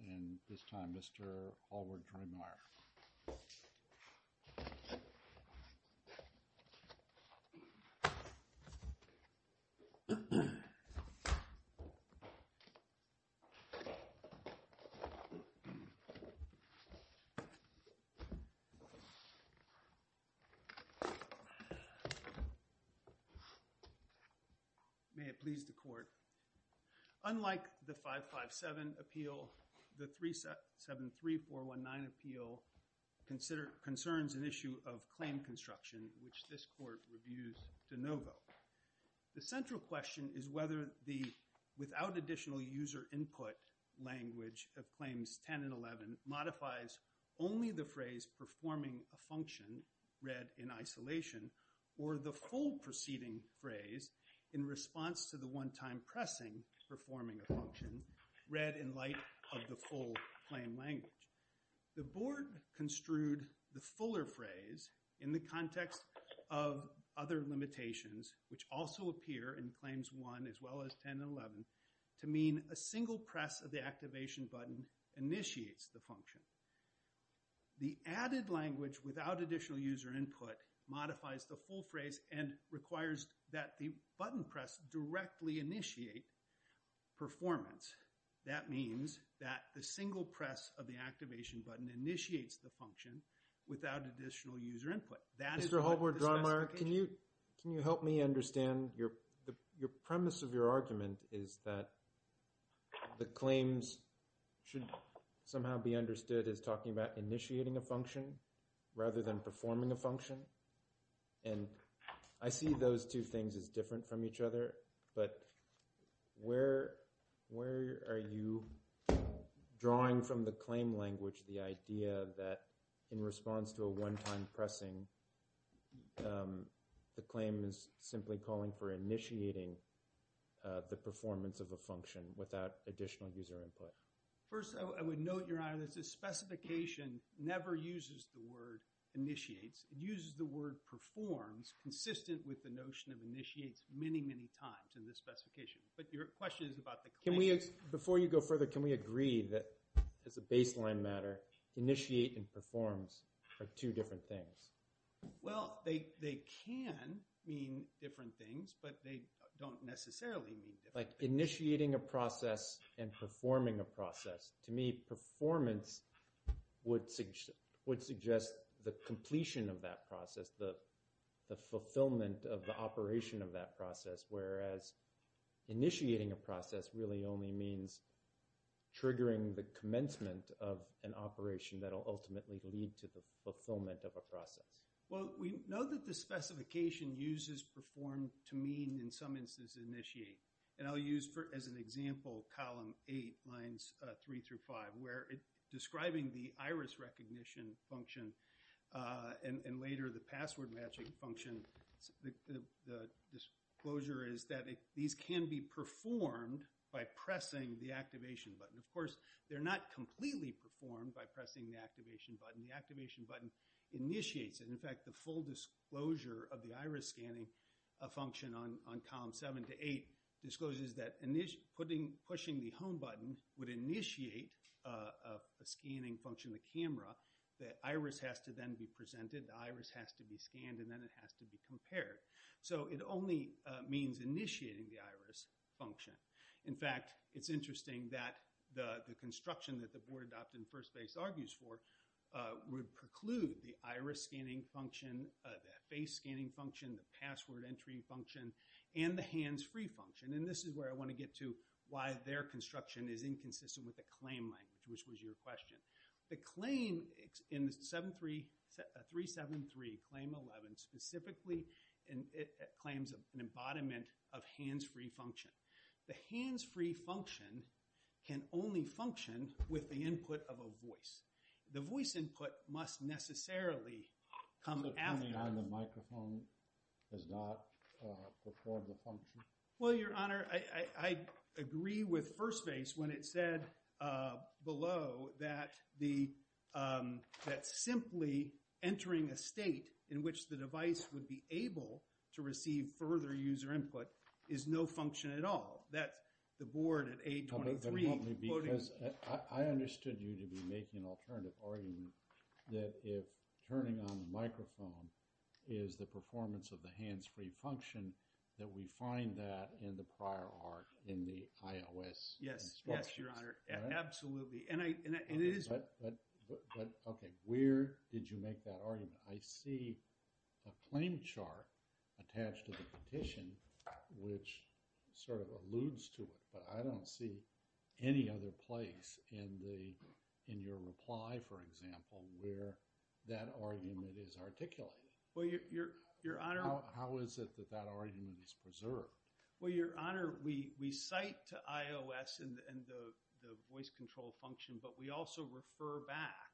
and this time, Mr. Howard Dreimeyer. May it please the Court, unlike the 557 appeal, the 373419 appeal, concerns an issue of claim construction, which this Court reviews de novo. The central question is whether the without additional user input language of Claims 10 and 11 modifies only the phrase, performing a function, read in isolation, or the full preceding phrase, in response to the one-time pressing, performing a function, read in light of the full claim language. The Board construed the fuller phrase in the context of other limitations, which also appear in Claims 1 as well as 10 and 11, to mean a single press of the activation button initiates the function. The added language without additional user input modifies the full phrase and requires that the button press directly initiate performance. That means that the single press of the activation button initiates the function without additional user input. Mr. Howard Dreimeyer, can you help me understand your premise of your argument is that the claims should somehow be understood as talking about initiating a function rather than performing a function? And I see those two things as different from each other, but where are you drawing from the claim language the idea that, in response to a one-time pressing, the claim is simply calling for initiating the performance of a function without additional user input? First, I would note, Your Honor, that this specification never uses the word initiates. It uses the word performs consistent with the notion of initiates many, many times in this specification. But your question is about the claim. Before you go further, can we agree that, as a baseline matter, initiate and performs are two different things? Well, they can mean different things, but they don't necessarily mean different things. Like initiating a process and performing a process, to me performance would suggest the completion of that process, the fulfillment of the operation of that process, whereas initiating a process really only means triggering the commencement of an operation that will ultimately lead to the fulfillment of a process. Well, we know that the specification uses perform to mean, in some instances, initiate. And I'll use, as an example, column 8, lines 3 through 5, where describing the iris recognition function and later the password matching function, the disclosure is that these can be performed by pressing the activation button. Of course, they're not completely performed by pressing the activation button. The activation button initiates it. In fact, the full disclosure of the iris scanning function on column 7 to 8 discloses that pushing the home button would initiate a scanning function of the camera. The iris has to then be presented. The iris has to be scanned. And then it has to be compared. So it only means initiating the iris function. In fact, it's interesting that the construction that the board adopted and First Base argues for would preclude the iris scanning function, the face scanning function, the password entry function, and the hands-free function. And this is where I want to get to why their construction is inconsistent with the claim language, which was your question. The claim in 373, Claim 11, specifically claims an embodiment of hands-free function. The hands-free function can only function with the input of a voice. The voice input must necessarily come after. So turning on the microphone does not perform the function? Well, Your Honor, I agree with First Base when it said below that simply entering a state in which the device would be able to receive further user input is no function at all. That's the board at 823. But help me because I understood you to be making an alternative argument that if turning on the microphone is the performance of the hands-free function, that we find that in the prior arc in the iOS instructions. Yes, Your Honor. Absolutely. But, okay, where did you make that argument? I see a claim chart attached to the petition which sort of alludes to it, but I don't see any other place in your reply, for example, where that argument is articulated. Well, Your Honor. How is it that that argument is preserved? Well, Your Honor, we cite iOS and the voice control function, but we also refer back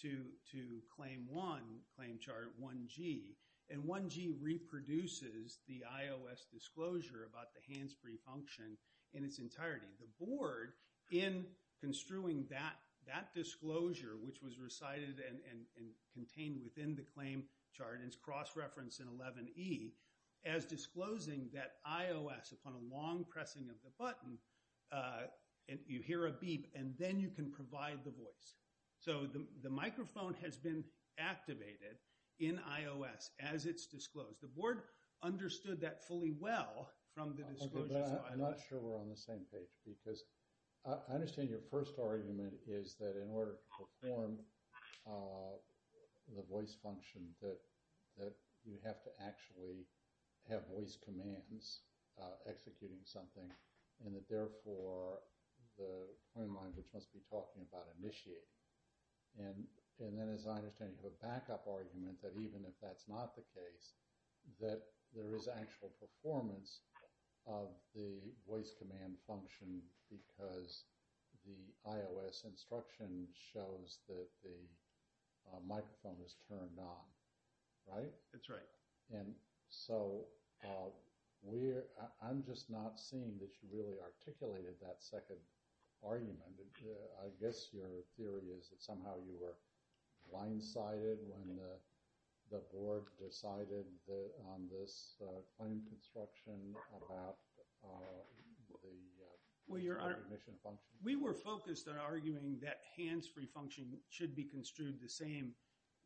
to Claim 1, Claim Chart 1G, and 1G reproduces the iOS disclosure about the hands-free function in its entirety. The board, in construing that disclosure which was recited and contained within the claim chart and is cross-referenced in 11E as disclosing that iOS upon a long pressing of the button, you hear a beep and then you can provide the voice. So the microphone has been activated in iOS as it's disclosed. The board understood that fully well from the disclosure. I'm not sure we're on the same page because I understand your first argument is that in order to perform the voice function that you have to actually have voice commands executing something and that therefore the claim language must be talking about initiating. And then as I understand, you have a backup argument that even if that's not the case, that there is actual performance of the voice command function because the iOS instruction shows that the microphone is turned on, right? That's right. And so I'm just not seeing that you really articulated that second argument. I guess your theory is that somehow you were blindsided when the board decided on this claim construction about the recognition function. We were focused on arguing that hands-free function should be construed the same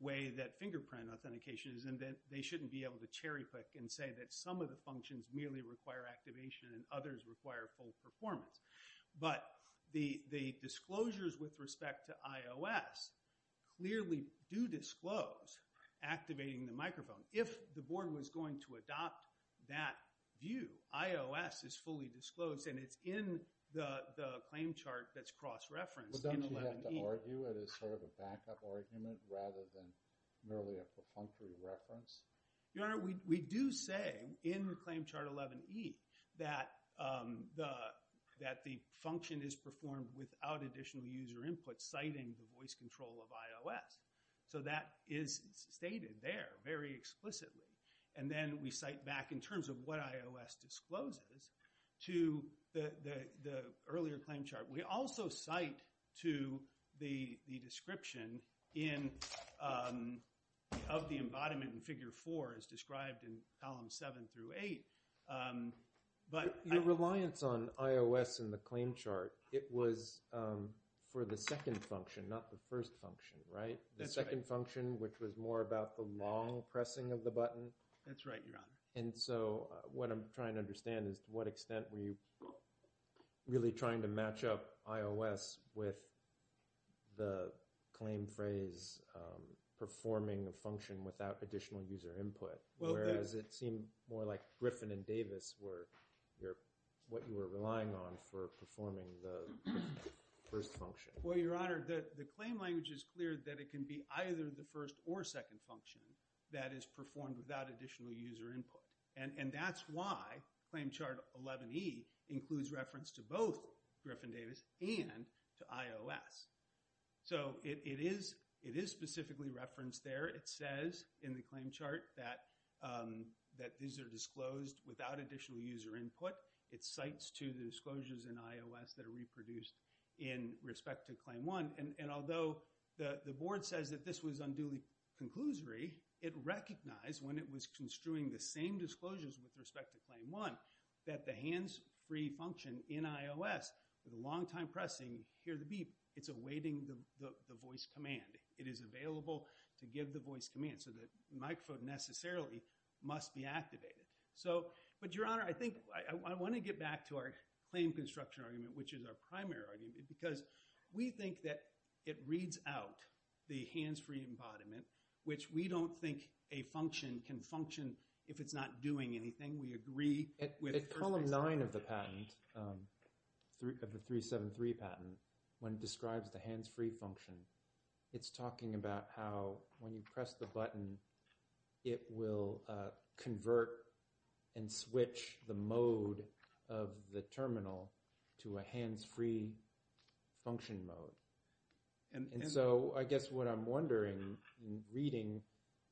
way that fingerprint authentication is and that they shouldn't be able to cherry pick and say that some of the functions merely require activation and others require full performance. But the disclosures with respect to iOS clearly do disclose activating the microphone. If the board was going to adopt that view, iOS is fully disclosed and it's in the claim chart that's cross-referenced in 11E. But don't you have to argue it as sort of a backup argument rather than merely a perfunctory reference? Your Honor, we do say in the claim chart 11E that the function is performed without additional user input citing the voice control of iOS. So that is stated there very explicitly. And then we cite back in terms of what iOS discloses to the earlier claim chart. We also cite to the description of the embodiment in Figure 4 as described in Columns 7 through 8. Your reliance on iOS in the claim chart, it was for the second function, not the first function, right? The second function, which was more about the long pressing of the button? That's right, Your Honor. And so what I'm trying to understand is to what extent were you really trying to match up iOS with the claim phrase performing a function without additional user input? Whereas it seemed more like Griffin and Davis were what you were relying on for performing the first function. Well, Your Honor, the claim language is clear that it can be either the first or second function that is performed without additional user input. And that's why claim chart 11E includes reference to both Griffin-Davis and to iOS. So it is specifically referenced there. It says in the claim chart that these are disclosed without additional user input. It cites to the disclosures in iOS that are reproduced in respect to claim 1. And although the board says that this was unduly conclusory, it recognized when it was construing the same disclosures with respect to claim 1 that the hands-free function in iOS with a long time pressing, hear the beep, it's awaiting the voice command. It is available to give the voice command. So the microphone necessarily must be activated. But, Your Honor, I think I want to get back to our claim construction argument, which is our primary argument, because we think that it reads out the hands-free embodiment, which we don't think a function can function if it's not doing anything. We agree with the first explanation. At column 9 of the patent, of the 373 patent, when it describes the hands-free function, it's talking about how when you press the button, it will convert and switch the mode of the terminal to a hands-free function mode. And so I guess what I'm wondering in reading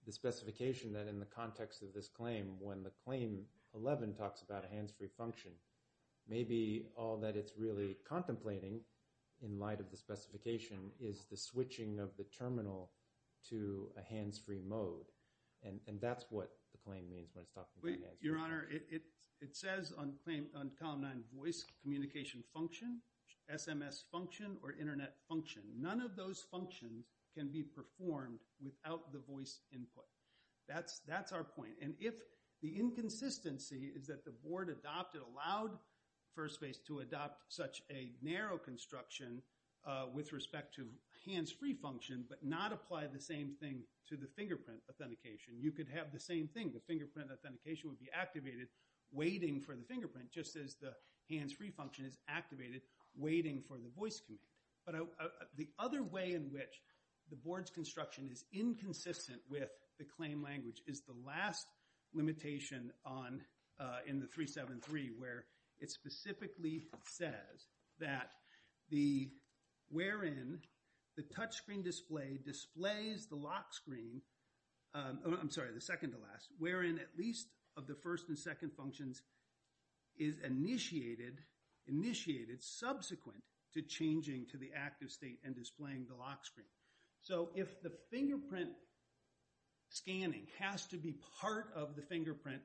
the specification that in the context of this claim, when the claim 11 talks about a hands-free function, maybe all that it's really contemplating in light of the specification is the switching of the terminal to a hands-free mode. And that's what the claim means when it's talking about hands-free. Your Honor, it says on column 9, voice communication function, SMS function, or internet function. None of those functions can be performed without the voice input. That's our point. And if the inconsistency is that the board adopted, allowed FirstBase to adopt such a narrow construction with respect to hands-free function but not apply the same thing to the fingerprint authentication, you could have the same thing. The fingerprint authentication would be activated waiting for the fingerprint just as the hands-free function is activated waiting for the voice command. But the other way in which the board's construction is inconsistent with the claim language is the last limitation in the 373 where it specifically says that wherein the touch screen display displays the lock screen, I'm sorry, the second to last, wherein at least of the first and second functions is initiated subsequent to changing to the active state and displaying the lock screen. So if the fingerprint scanning has to be part of the fingerprint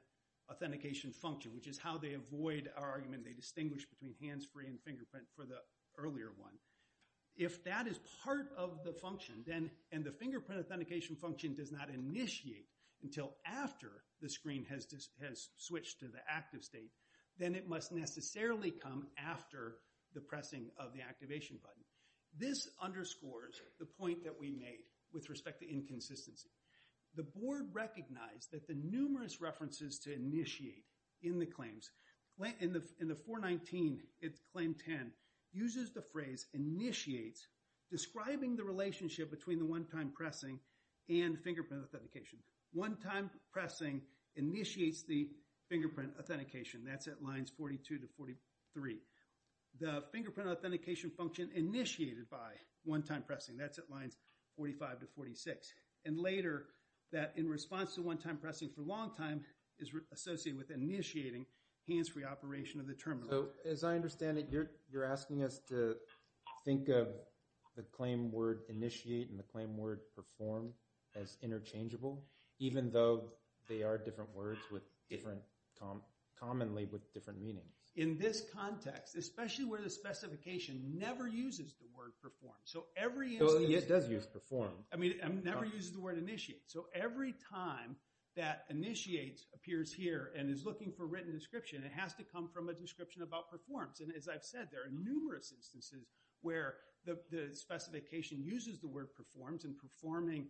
authentication function, which is how they avoid our argument. They distinguish between hands-free and fingerprint for the earlier one. If that is part of the function and the fingerprint authentication function does not initiate until after the screen has switched to the active state, then it must necessarily come after the pressing of the activation button. This underscores the point that we made with respect to inconsistency. The board recognized that the numerous references to initiate in the claims, in the 419, it's claim 10, uses the phrase initiates describing the relationship between the one-time pressing and fingerprint authentication. One-time pressing initiates the fingerprint authentication. That's at lines 42 to 43. The fingerprint authentication function initiated by one-time pressing, that's at lines 45 to 46. And later, that in response to one-time pressing for a long time is associated with initiating hands-free operation of the terminal. So as I understand it, you're asking us to think of the claim word initiate and the claim word perform as interchangeable, even though they are different words commonly with different meanings. In this context, especially where the specification never uses the word perform. So every instance... It does use perform. I mean, it never uses the word initiate. So every time that initiate appears here and is looking for written description, it has to come from a description about performs. And as I've said, there are numerous instances where the specification uses the word performs and performing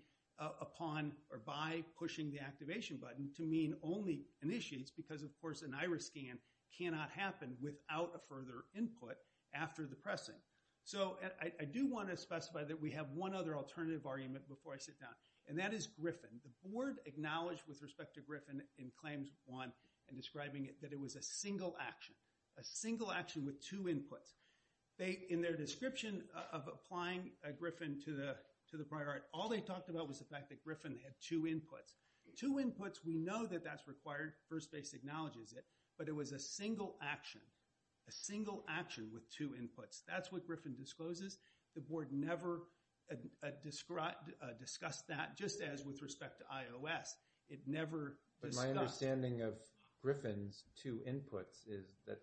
upon or by pushing the activation button to mean only initiates because, of course, an iris scan cannot happen without a further input after the pressing. So I do want to specify that we have one other alternative argument before I sit down, and that is Griffin. The board acknowledged with respect to Griffin in Claims 1 in describing it that it was a single action, a single action with two inputs. In their description of applying Griffin to the prior art, all they talked about was the fact that Griffin had two inputs. Two inputs, we know that that's required. First base acknowledges it. But it was a single action, a single action with two inputs. That's what Griffin discloses. The board never discussed that, just as with respect to iOS. It never discussed... But my understanding of Griffin's two inputs is that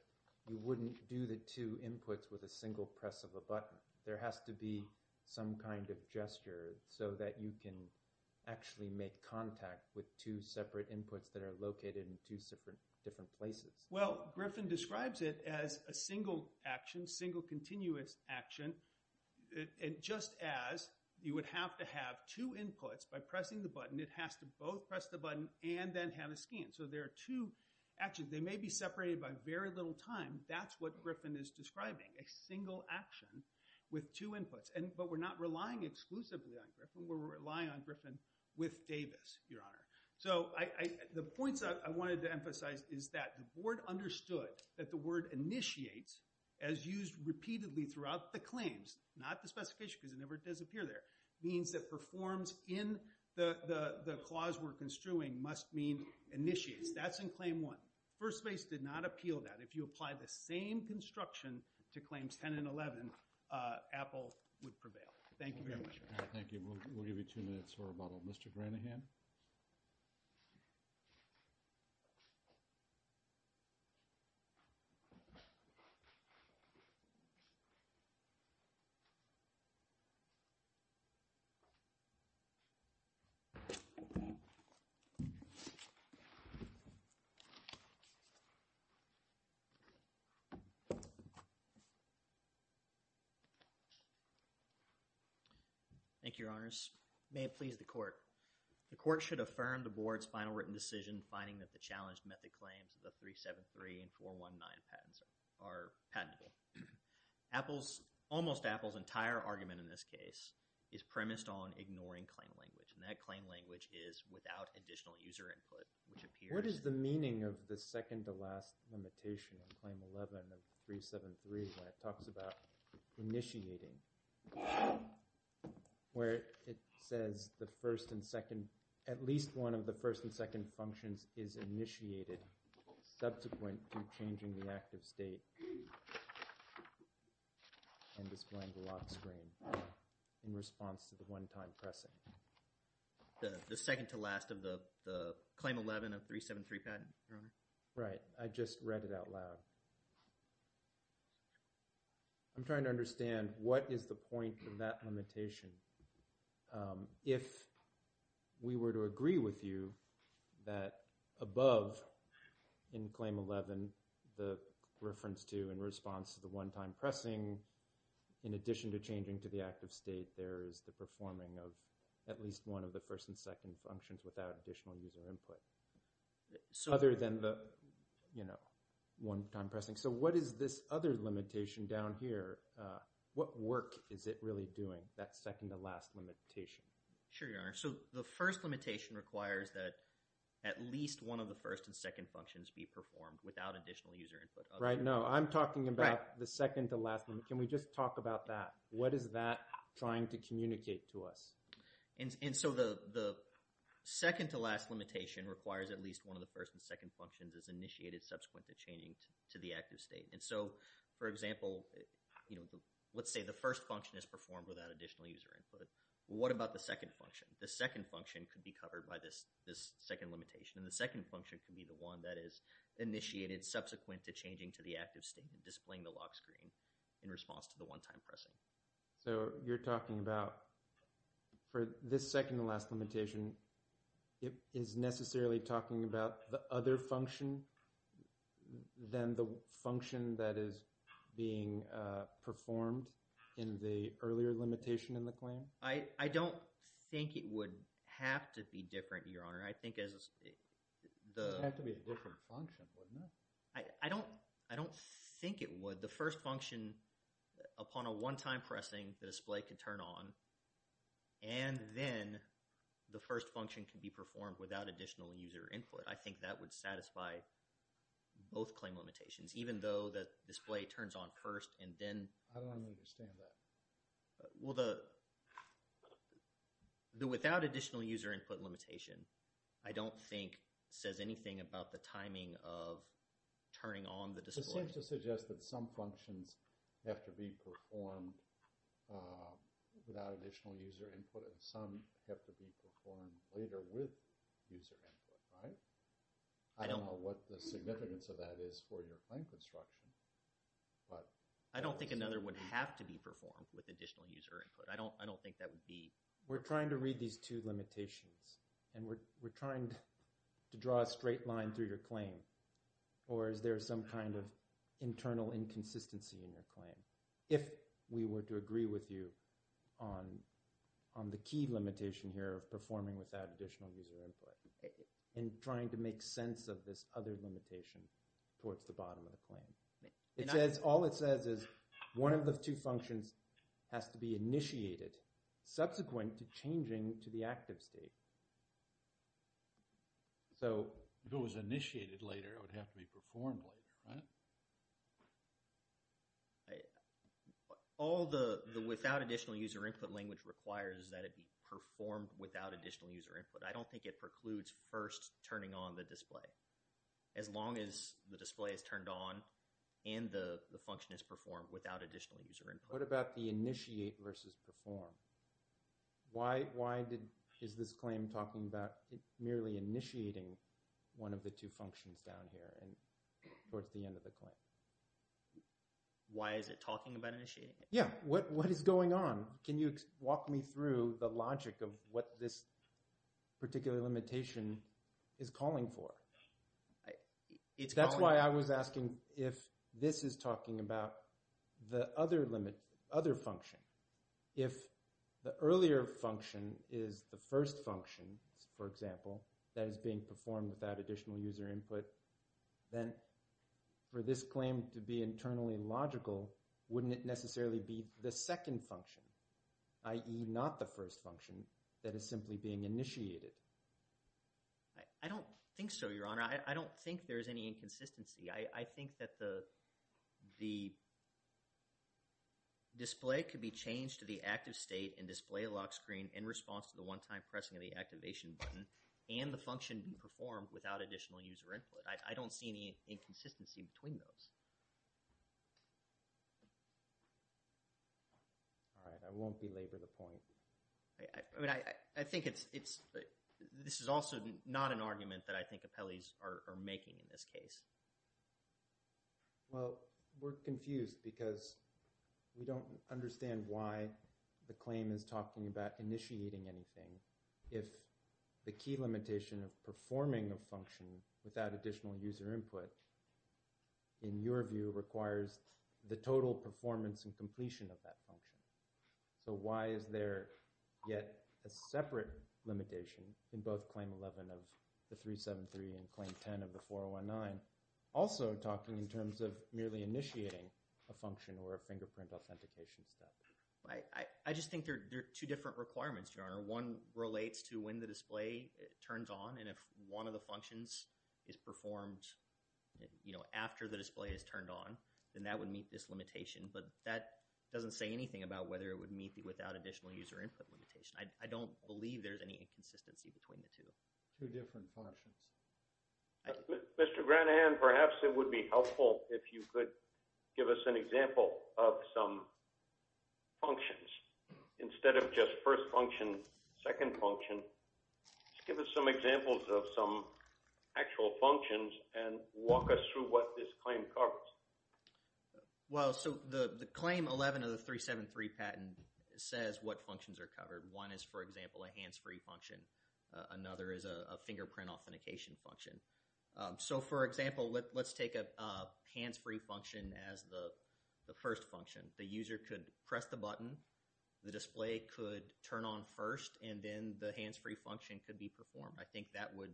you wouldn't do the two inputs with a single press of a button. There has to be some kind of gesture so that you can actually make contact with two separate inputs that are located in two different places. Well, Griffin describes it as a single action, single continuous action, just as you would have to have two inputs. By pressing the button, it has to both press the button and then have a scan. So there are two actions. They may be separated by very little time. That's what Griffin is describing, a single action with two inputs. But we're not relying exclusively on Griffin. We're relying on Griffin with Davis, Your Honor. So the points I wanted to emphasize is that the board understood that the word initiates, as used repeatedly throughout the claims, not the specification because it never does appear there, means that performs in the clause we're construing must mean initiates. That's in claim one. First base did not appeal that. If you apply the same construction to claims 10 and 11, Apple would prevail. Thank you very much. Thank you. We'll give you two minutes for rebuttal. Mr. Granahan? Thank you, Your Honors. May it please the court. The court should affirm the board's final written decision finding that the challenged method claims of the 373 and 419 patents are patentable. Almost Apple's entire argument in this case is premised on ignoring claim language, and that claim language is without additional user input, which appears— The second-to-last limitation in claim 11 of 373 when it talks about initiating, where it says the first and second— at least one of the first and second functions is initiated subsequent to changing the active state and displaying the lock screen in response to the one-time pressing. The second-to-last of the claim 11 of 373 patent, Your Honor? Right. I just read it out loud. I'm trying to understand what is the point of that limitation. If we were to agree with you that above in claim 11, the reference to in response to the one-time pressing, in addition to changing to the active state, there is the performing of at least one of the first and second functions without additional user input other than the one-time pressing. So what is this other limitation down here? What work is it really doing, that second-to-last limitation? Sure, Your Honor. So the first limitation requires that at least one of the first and second functions be performed without additional user input. Right. No, I'm talking about the second-to-last. Can we just talk about that? What is that trying to communicate to us? And so the second-to-last limitation requires at least one of the first and second functions as initiated subsequent to changing to the active state. And so, for example, let's say the first function is performed without additional user input. What about the second function? The second function could be covered by this second limitation, and the second function could be the one that is initiated subsequent to changing to the active state and displaying the lock screen in response to the one-time pressing. So you're talking about for this second-to-last limitation, it is necessarily talking about the other function than the function that is being performed in the earlier limitation in the claim? I don't think it would have to be different, Your Honor. I think as the— It would have to be a different function, wouldn't it? I don't think it would. The first function, upon a one-time pressing, the display could turn on, and then the first function can be performed without additional user input. I think that would satisfy both claim limitations, even though the display turns on first and then— I don't understand that. Well, the without additional user input limitation, I don't think, says anything about the timing of turning on the display. It seems to suggest that some functions have to be performed without additional user input, and some have to be performed later with user input, right? I don't know what the significance of that is for your claim construction, but— I don't think another would have to be performed with additional user input. I don't think that would be— We're trying to read these two limitations, and we're trying to draw a straight line through your claim, or is there some kind of internal inconsistency in your claim, if we were to agree with you on the key limitation here of performing without additional user input and trying to make sense of this other limitation towards the bottom of the claim. All it says is one of the two functions has to be initiated subsequent to changing to the active state. So, if it was initiated later, it would have to be performed later, right? All the without additional user input language requires that it be performed without additional user input. I don't think it precludes first turning on the display, as long as the display is turned on and the function is performed without additional user input. What about the initiate versus perform? Why is this claim talking about merely initiating one of the two functions down here towards the end of the claim? Why is it talking about initiating it? Yeah, what is going on? Can you walk me through the logic of what this particular limitation is calling for? That's why I was asking if this is talking about the other function. If the earlier function is the first function, for example, that is being performed without additional user input, then for this claim to be internally logical, wouldn't it necessarily be the second function, i.e. not the first function, that is simply being initiated? I don't think so, Your Honor. I don't think there's any inconsistency. I think that the display could be changed to the active state and display lock screen in response to the one-time pressing of the activation button and the function being performed without additional user input. I don't see any inconsistency between those. All right, I won't belabor the point. I think this is also not an argument that I think Well, we're confused because we don't understand why the claim is talking about initiating anything if the key limitation of performing a function without additional user input, in your view, requires the total performance and completion of that function. So why is there yet a separate limitation in both Claim 11 of the 373 and Claim 10 of the 419 also talking in terms of merely initiating a function or a fingerprint authentication step? I just think there are two different requirements, Your Honor. One relates to when the display turns on and if one of the functions is performed after the display is turned on, then that would meet this limitation. But that doesn't say anything about whether it would meet the without additional user input limitation. I don't believe there's any inconsistency between the two. Two different functions. Mr. Granahan, perhaps it would be helpful if you could give us an example of some functions instead of just first function, second function. Give us some examples of some actual functions and walk us through what this claim covers. Well, so the Claim 11 of the 373 patent says what functions are covered. One is, for example, a hands-free function. Another is a fingerprint authentication function. So, for example, let's take a hands-free function as the first function. The user could press the button, the display could turn on first, and then the hands-free function could be performed. I think that would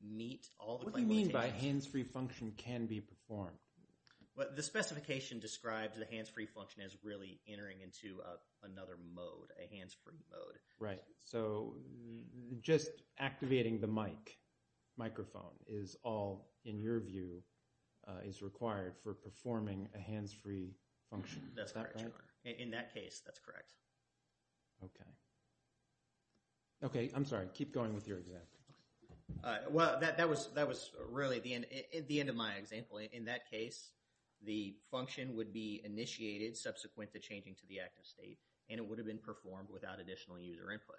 meet all the limitations. What do you mean by hands-free function can be performed? The specification describes the hands-free function as really entering into another mode, a hands-free mode. Right, so just activating the mic, microphone, is all, in your view, is required for performing a hands-free function. That's correct. Is that correct? In that case, that's correct. Okay. Okay, I'm sorry, keep going with your example. Well, that was really the end of my example. In that case, the function would be initiated subsequent to changing to the active state, and it would have been performed without additional user input.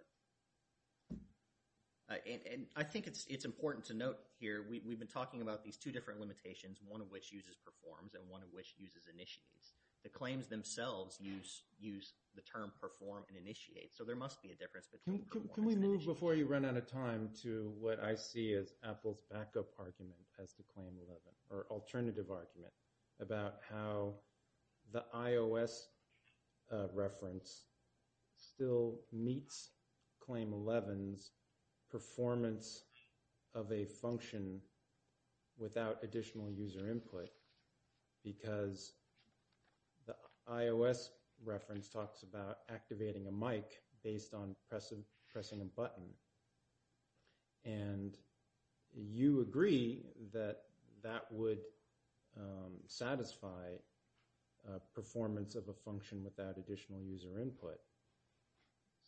And I think it's important to note here, we've been talking about these two different limitations, one of which uses performs and one of which uses initiates. The claims themselves use the term perform and initiate, so there must be a difference between the two. Can we move, before you run out of time, to what I see as Apple's backup argument as to Claim 11, or alternative argument, about how the iOS reference still meets Claim 11's performance of a function without additional user input, because the iOS reference talks about activating a mic based on pressing a button. And you agree that that would satisfy performance of a function without additional user input.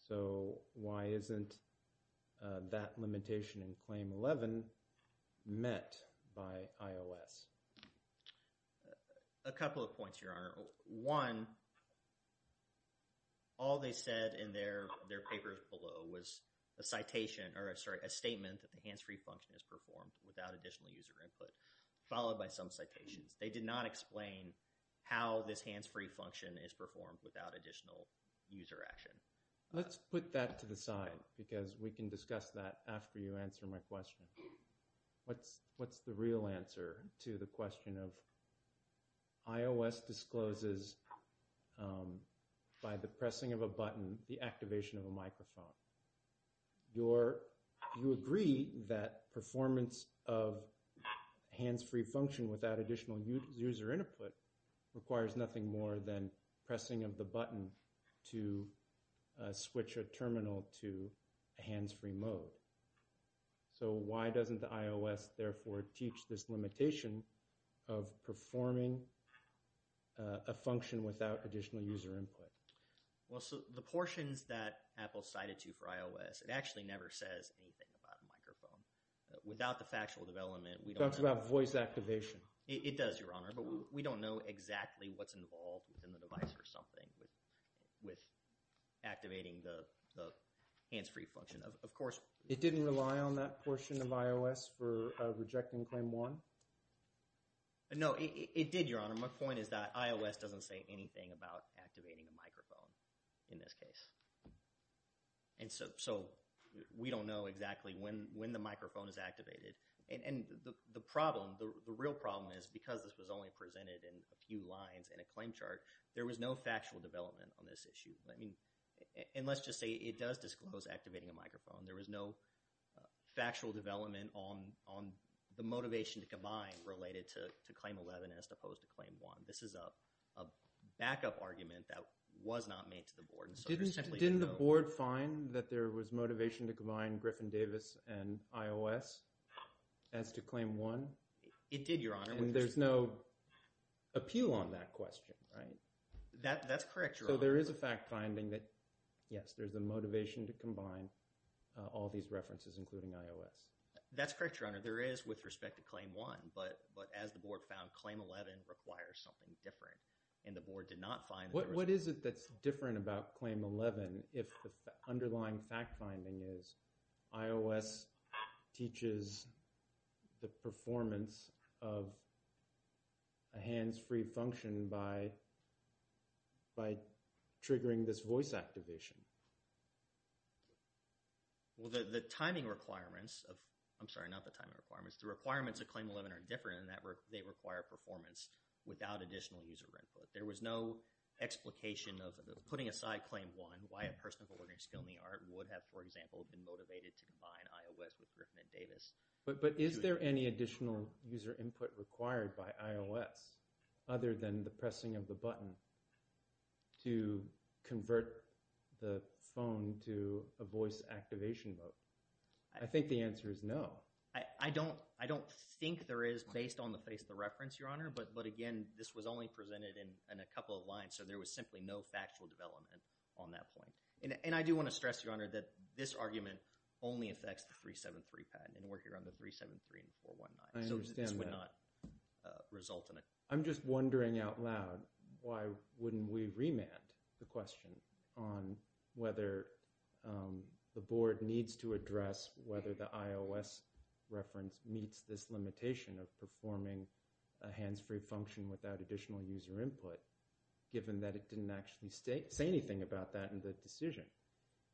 So why isn't that limitation in Claim 11 met by iOS? A couple of points, Your Honor. One, all they said in their papers below was a statement that the hands-free function is performed without additional user input, followed by some citations. They did not explain how this hands-free function is performed without additional user action. Let's put that to the side, because we can discuss that after you answer my question. What's the real answer to the question of iOS discloses, by the pressing of a button, the activation of a microphone? You agree that performance of hands-free function without additional user input requires nothing more than pressing of the button to switch a terminal to hands-free mode. So why doesn't the iOS, therefore, teach this limitation of performing a function without additional user input? Well, so the portions that Apple cited to for iOS, it actually never says anything about a microphone. Without the factual development, we don't know... It talks about voice activation. It does, Your Honor, but we don't know exactly what's involved within the device or something with activating the hands-free function. Of course... It didn't rely on that portion of iOS for rejecting Claim 1? No, it did, Your Honor. My point is that iOS doesn't say anything about activating a microphone in this case. And so we don't know exactly when the microphone is activated. And the problem, the real problem is, because this was only presented in a few lines in a claim chart, there was no factual development on this issue. And let's just say it does disclose activating a microphone. There was no factual development on the motivation to combine related to Claim 11 as opposed to Claim 1. This is a backup argument that was not made to the Board. Didn't the Board find that there was motivation to combine Griffin-Davis and iOS as to Claim 1? It did, Your Honor. And there's no appeal on that question, right? That's correct, Your Honor. So there is a fact-finding that, yes, there's a motivation to combine all these references, including iOS. That's correct, Your Honor. There is with respect to Claim 1, but as the Board found, Claim 11 requires something different. And the Board did not find that there was. What is it that's different about Claim 11 if the underlying fact-finding is iOS teaches the performance of a hands-free function by triggering this voice activation? Well, the timing requirements of – I'm sorry, not the timing requirements. The requirements of Claim 11 are different in that they require performance without additional user input. There was no explication of putting aside Claim 1, why a person with a learning skill in the art would have, for example, been motivated to combine iOS with Griffin-Davis. But is there any additional user input required by iOS other than the pressing of the button to convert the phone to a voice activation mode? I think the answer is no. I don't think there is based on the face of the reference, Your Honor. But again, this was only presented in a couple of lines, so there was simply no factual development on that point. And I do want to stress, Your Honor, that this argument only affects the 373 patent, and we're here on the 373 and 419. I understand that. So this would not result in a – I'm just wondering out loud why wouldn't we remand the question on whether the board needs to address whether the iOS reference meets this limitation of performing a hands-free function without additional user input, given that it didn't actually say anything about that in the decision.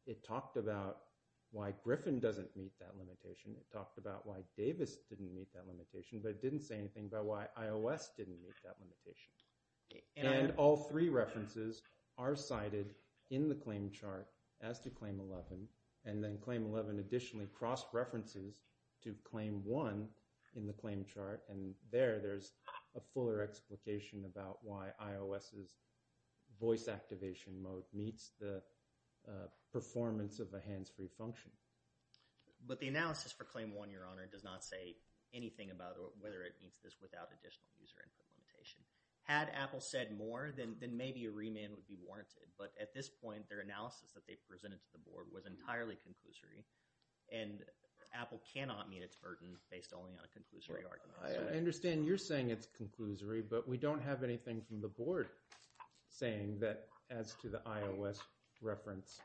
It talked about why Griffin doesn't meet that limitation. It talked about why Davis didn't meet that limitation, but it didn't say anything about why iOS didn't meet that limitation. And all three references are cited in the claim chart as to Claim 11, and then Claim 11 additionally cross-references to Claim 1 in the claim chart, and there there's a fuller explication about why iOS's voice activation mode meets the performance of a hands-free function. But the analysis for Claim 1, Your Honor, does not say anything about whether it meets this without additional user input limitation. Had Apple said more, then maybe a remand would be warranted. But at this point, their analysis that they presented to the board was entirely conclusory, and Apple cannot meet its burden based only on a conclusory argument. I understand you're saying it's conclusory, but we don't have anything from the board saying that, as to the iOS reference,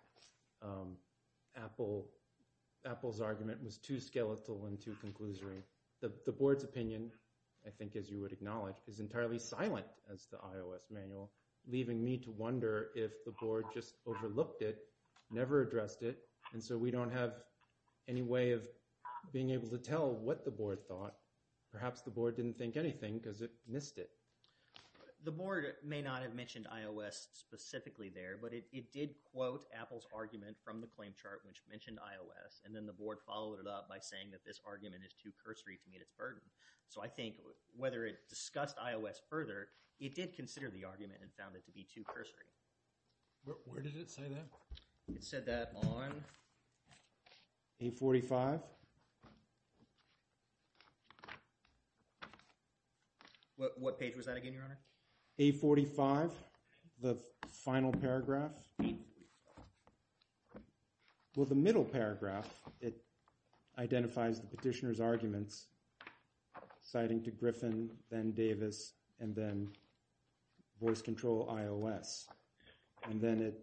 Apple's argument was too skeletal and too conclusory. The board's opinion, I think as you would acknowledge, is entirely silent as the iOS manual, leaving me to wonder if the board just overlooked it, never addressed it, and so we don't have any way of being able to tell what the board thought. Perhaps the board didn't think anything because it missed it. The board may not have mentioned iOS specifically there, but it did quote Apple's argument from the claim chart which mentioned iOS, and then the board followed it up by saying that this argument is too cursory to meet its burden. So I think whether it discussed iOS further, it did consider the argument and found it to be too cursory. Where did it say that? It said that on A45. What page was that again, Your Honor? A45, the final paragraph. Well, the middle paragraph, it identifies the petitioner's arguments, citing to Griffin, then Davis, and then voice control iOS, and then it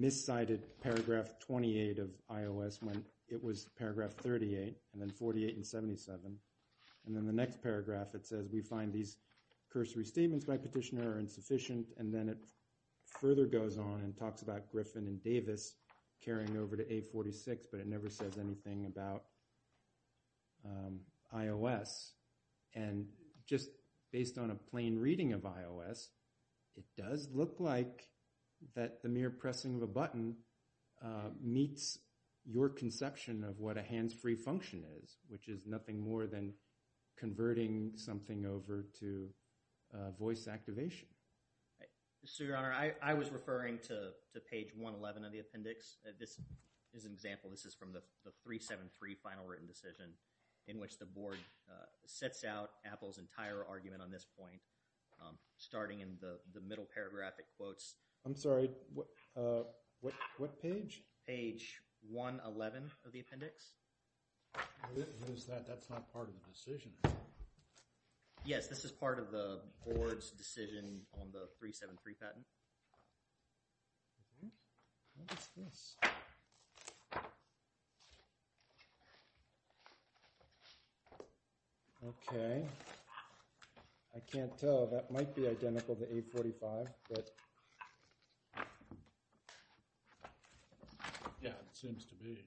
miscited paragraph 28 of iOS when it was paragraph 38, and then 48 and 77, and then the next paragraph it says we find these cursory statements by petitioner are insufficient, and then it further goes on and talks about Griffin and Davis carrying over to A46, but it never says anything about iOS. And just based on a plain reading of iOS, it does look like that the mere pressing of a button meets your conception of what a hands-free function is, which is nothing more than converting something over to voice activation. So, Your Honor, I was referring to page 111 of the appendix. This is an example. This is from the 373 final written decision in which the board sets out Apple's entire argument on this point, starting in the middle paragraph it quotes. I'm sorry, what page? Page 111 of the appendix. That's not part of the decision. Yes, this is part of the board's decision on the 373 patent. What is this? Okay. I can't tell. That might be identical to A45. Yeah, it seems to be.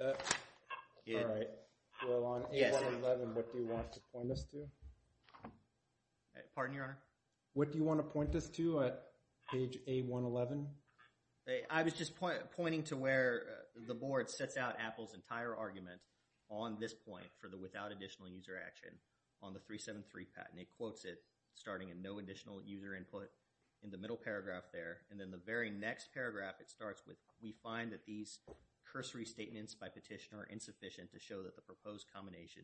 All right. Well, on A111, what do you want to point us to? Pardon, Your Honor? What do you want to point us to at page A111? I was just pointing to where the board sets out Apple's entire argument on this point for the without additional user action on the 373 patent. It quotes it, starting in no additional user input in the middle paragraph there, and then the very next paragraph it starts with, we find that these cursory statements by petitioner are insufficient to show that the proposed combination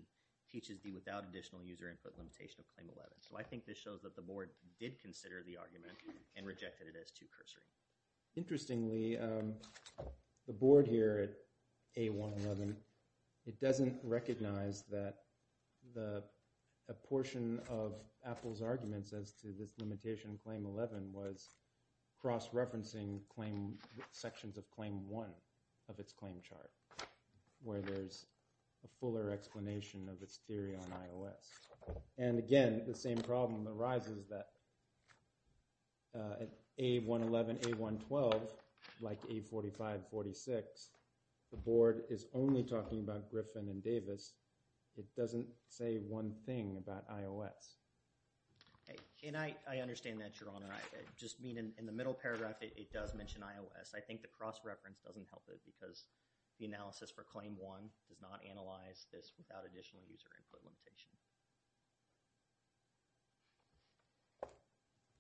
teaches the without additional user input limitation of claim 11. So I think this shows that the board did consider the argument and rejected it as too cursory. Interestingly, the board here at A111, it doesn't recognize that a portion of Apple's arguments as to this limitation of claim 11 was cross-referencing sections of claim 1 of its claim chart, where there's a fuller explanation of its theory on iOS. And again, the same problem arises that at A111, A112, like A45, 46, the board is only talking about Griffin and Davis. It doesn't say one thing about iOS. And I understand that, Your Honor. I just mean in the middle paragraph, it does mention iOS. I think the cross-reference doesn't help it because the analysis for claim 1 does not analyze this without additional user input limitation.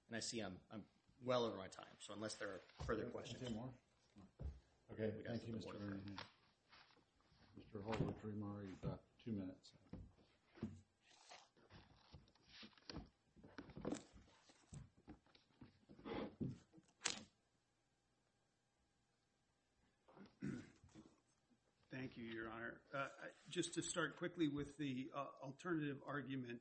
And I see I'm well over my time. So unless there are further questions. Thank you, Your Honor. Just to start quickly with the alternative argument,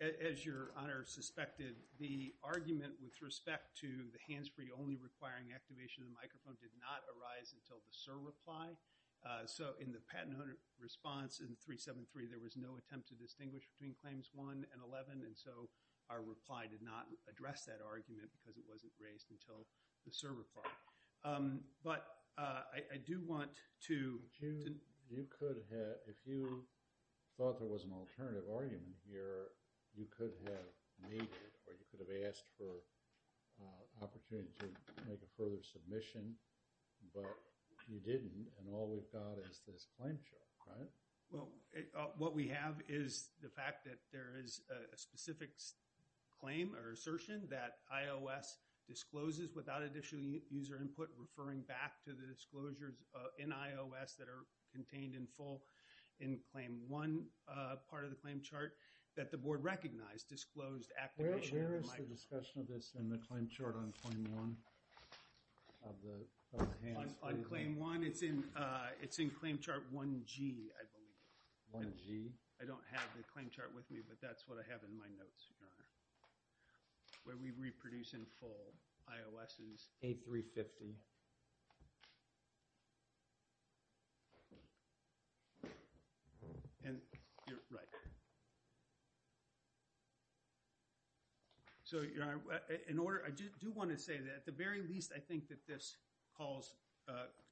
as Your Honor suspected, the argument with respect to the hands-free only requiring activation of the microphone did not arise until the SIR reply. So in the patent owner response in 373, there was no attempt to distinguish between claims 1 and 11. And so our reply did not address that argument because it wasn't raised until the SIR reply. But I do want to – You could have – if you thought there was an alternative argument here, you could have made it or you could have asked for an opportunity to make a further submission. But you didn't and all we've got is this claim chart, right? Well, what we have is the fact that there is a specific claim or assertion that iOS discloses without additional user input, referring back to the disclosures in iOS that are contained in full in claim 1 part of the claim chart that the board recognized disclosed activation of the microphone. Where is the discussion of this in the claim chart on claim 1 of the hands-free? On claim 1, it's in claim chart 1G, I believe. 1G? I don't have the claim chart with me, but that's what I have in my notes, Your Honor, where we reproduce in full iOS's – A350. And you're right. So, Your Honor, in order – I do want to say that at the very least, I think that this calls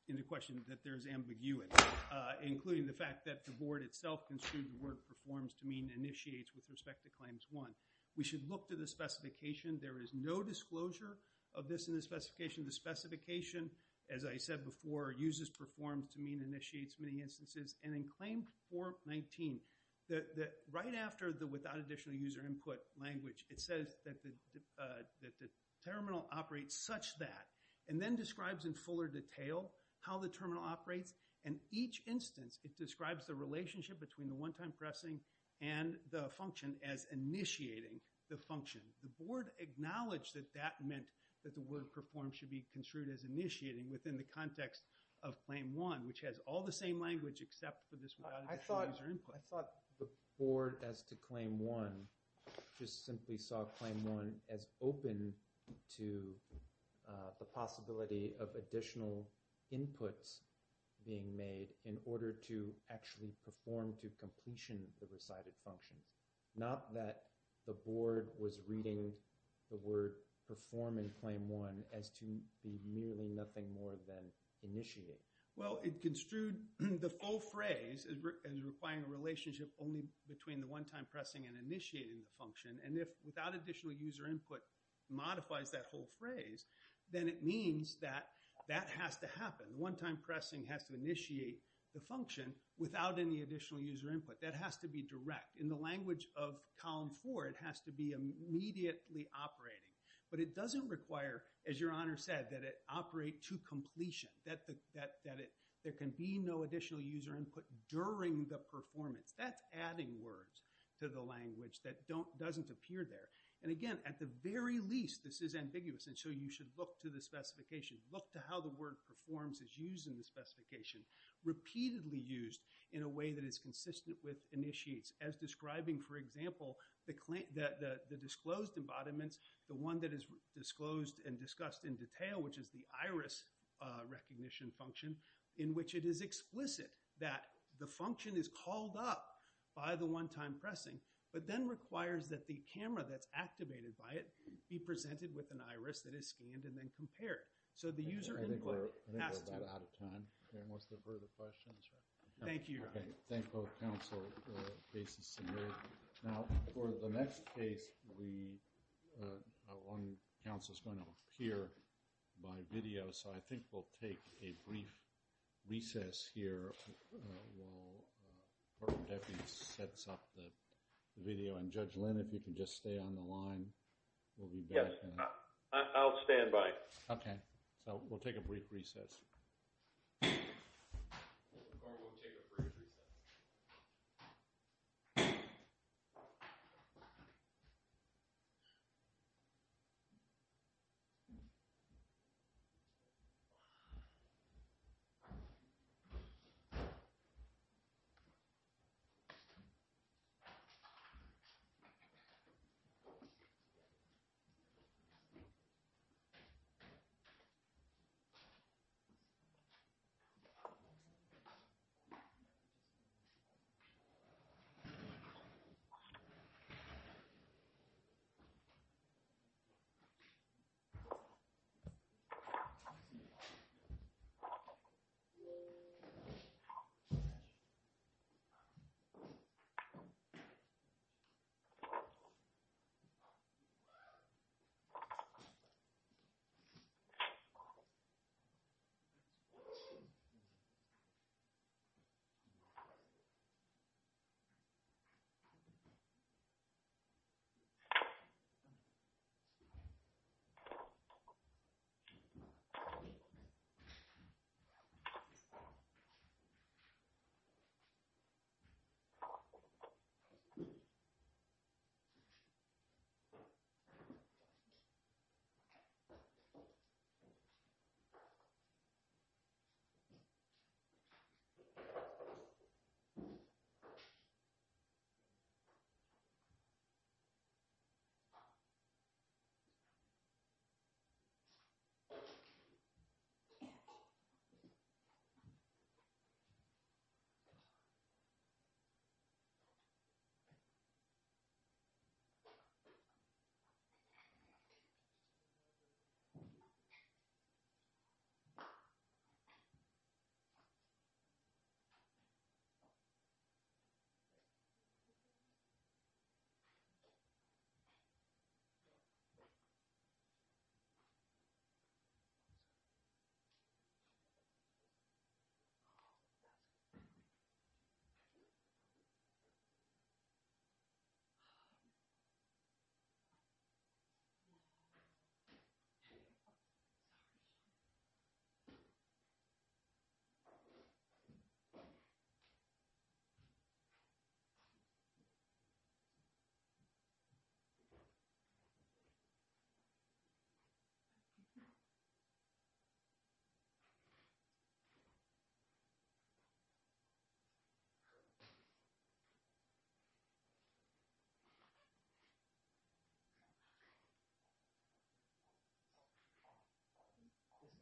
into question that there is ambiguity, including the fact that the board itself construed the word performs to mean initiates with respect to claims 1. We should look to the specification. There is no disclosure of this in the specification. The specification, as I said before, uses performs to mean initiates many instances. And in claim 419, right after the without additional user input language, it says that the terminal operates such that, and then describes in fuller detail how the terminal operates. And each instance, it describes the relationship between the one-time pressing and the function as initiating the function. The board acknowledged that that meant that the word performs should be construed as initiating within the context of claim 1, which has all the same language except for this without additional user input. I thought the board as to claim 1 just simply saw claim 1 as open to the possibility of additional inputs being made in order to actually perform to completion the recited functions, not that the board was reading the word perform in claim 1 as to be merely nothing more than initiate. Well, it construed the full phrase as requiring a relationship only between the one-time pressing and initiating the function. And if without additional user input modifies that whole phrase, then it means that that has to happen. The one-time pressing has to initiate the function without any additional user input. That has to be direct. In the language of column 4, it has to be immediately operating. But it doesn't require, as Your Honor said, that it operate to completion, that there can be no additional user input during the performance. That's adding words to the language that doesn't appear there. And again, at the very least, this is ambiguous, and so you should look to the specification. Look to how the word performs is used in the specification, repeatedly used in a way that is consistent with initiates as describing, for example, the disclosed embodiments, the one that is disclosed and discussed in detail, which is the iris recognition function, in which it is explicit that the function is called up by the one-time pressing, but then requires that the camera that's activated by it be presented with an iris that is scanned and then compared. So the user input has to. I think we're about out of time. Any more subverted questions? Thank you, Your Honor. Thank both counsel. The case is submitted. Now, for the next case, one counsel is going to appear by video, so I think we'll take a brief recess here while Courtroom Deputy sets up the video. And Judge Lynn, if you can just stay on the line, we'll be back. Yes, I'll stand by. Okay. So we'll take a brief recess. Court will take a brief recess.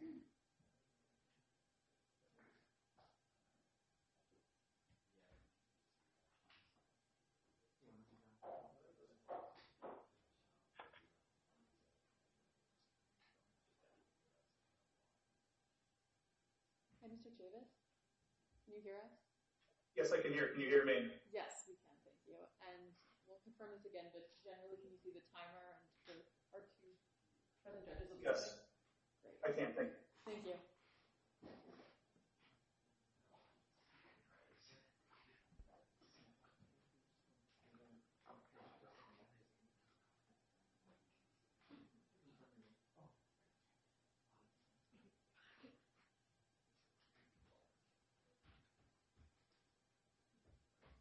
Thank you, Your Honor. Thank you, Your Honor. Thank you, Your Honor. I'm sorry. Oh, that's good. Sorry. I'm sorry. I'm sorry. I'm sorry. Can you hear us? Yes, I can hear. Can you hear me? Yes, we can. Thank you. And we'll confirm it again, but generally can you see the timer? Yes, I can. Thank you.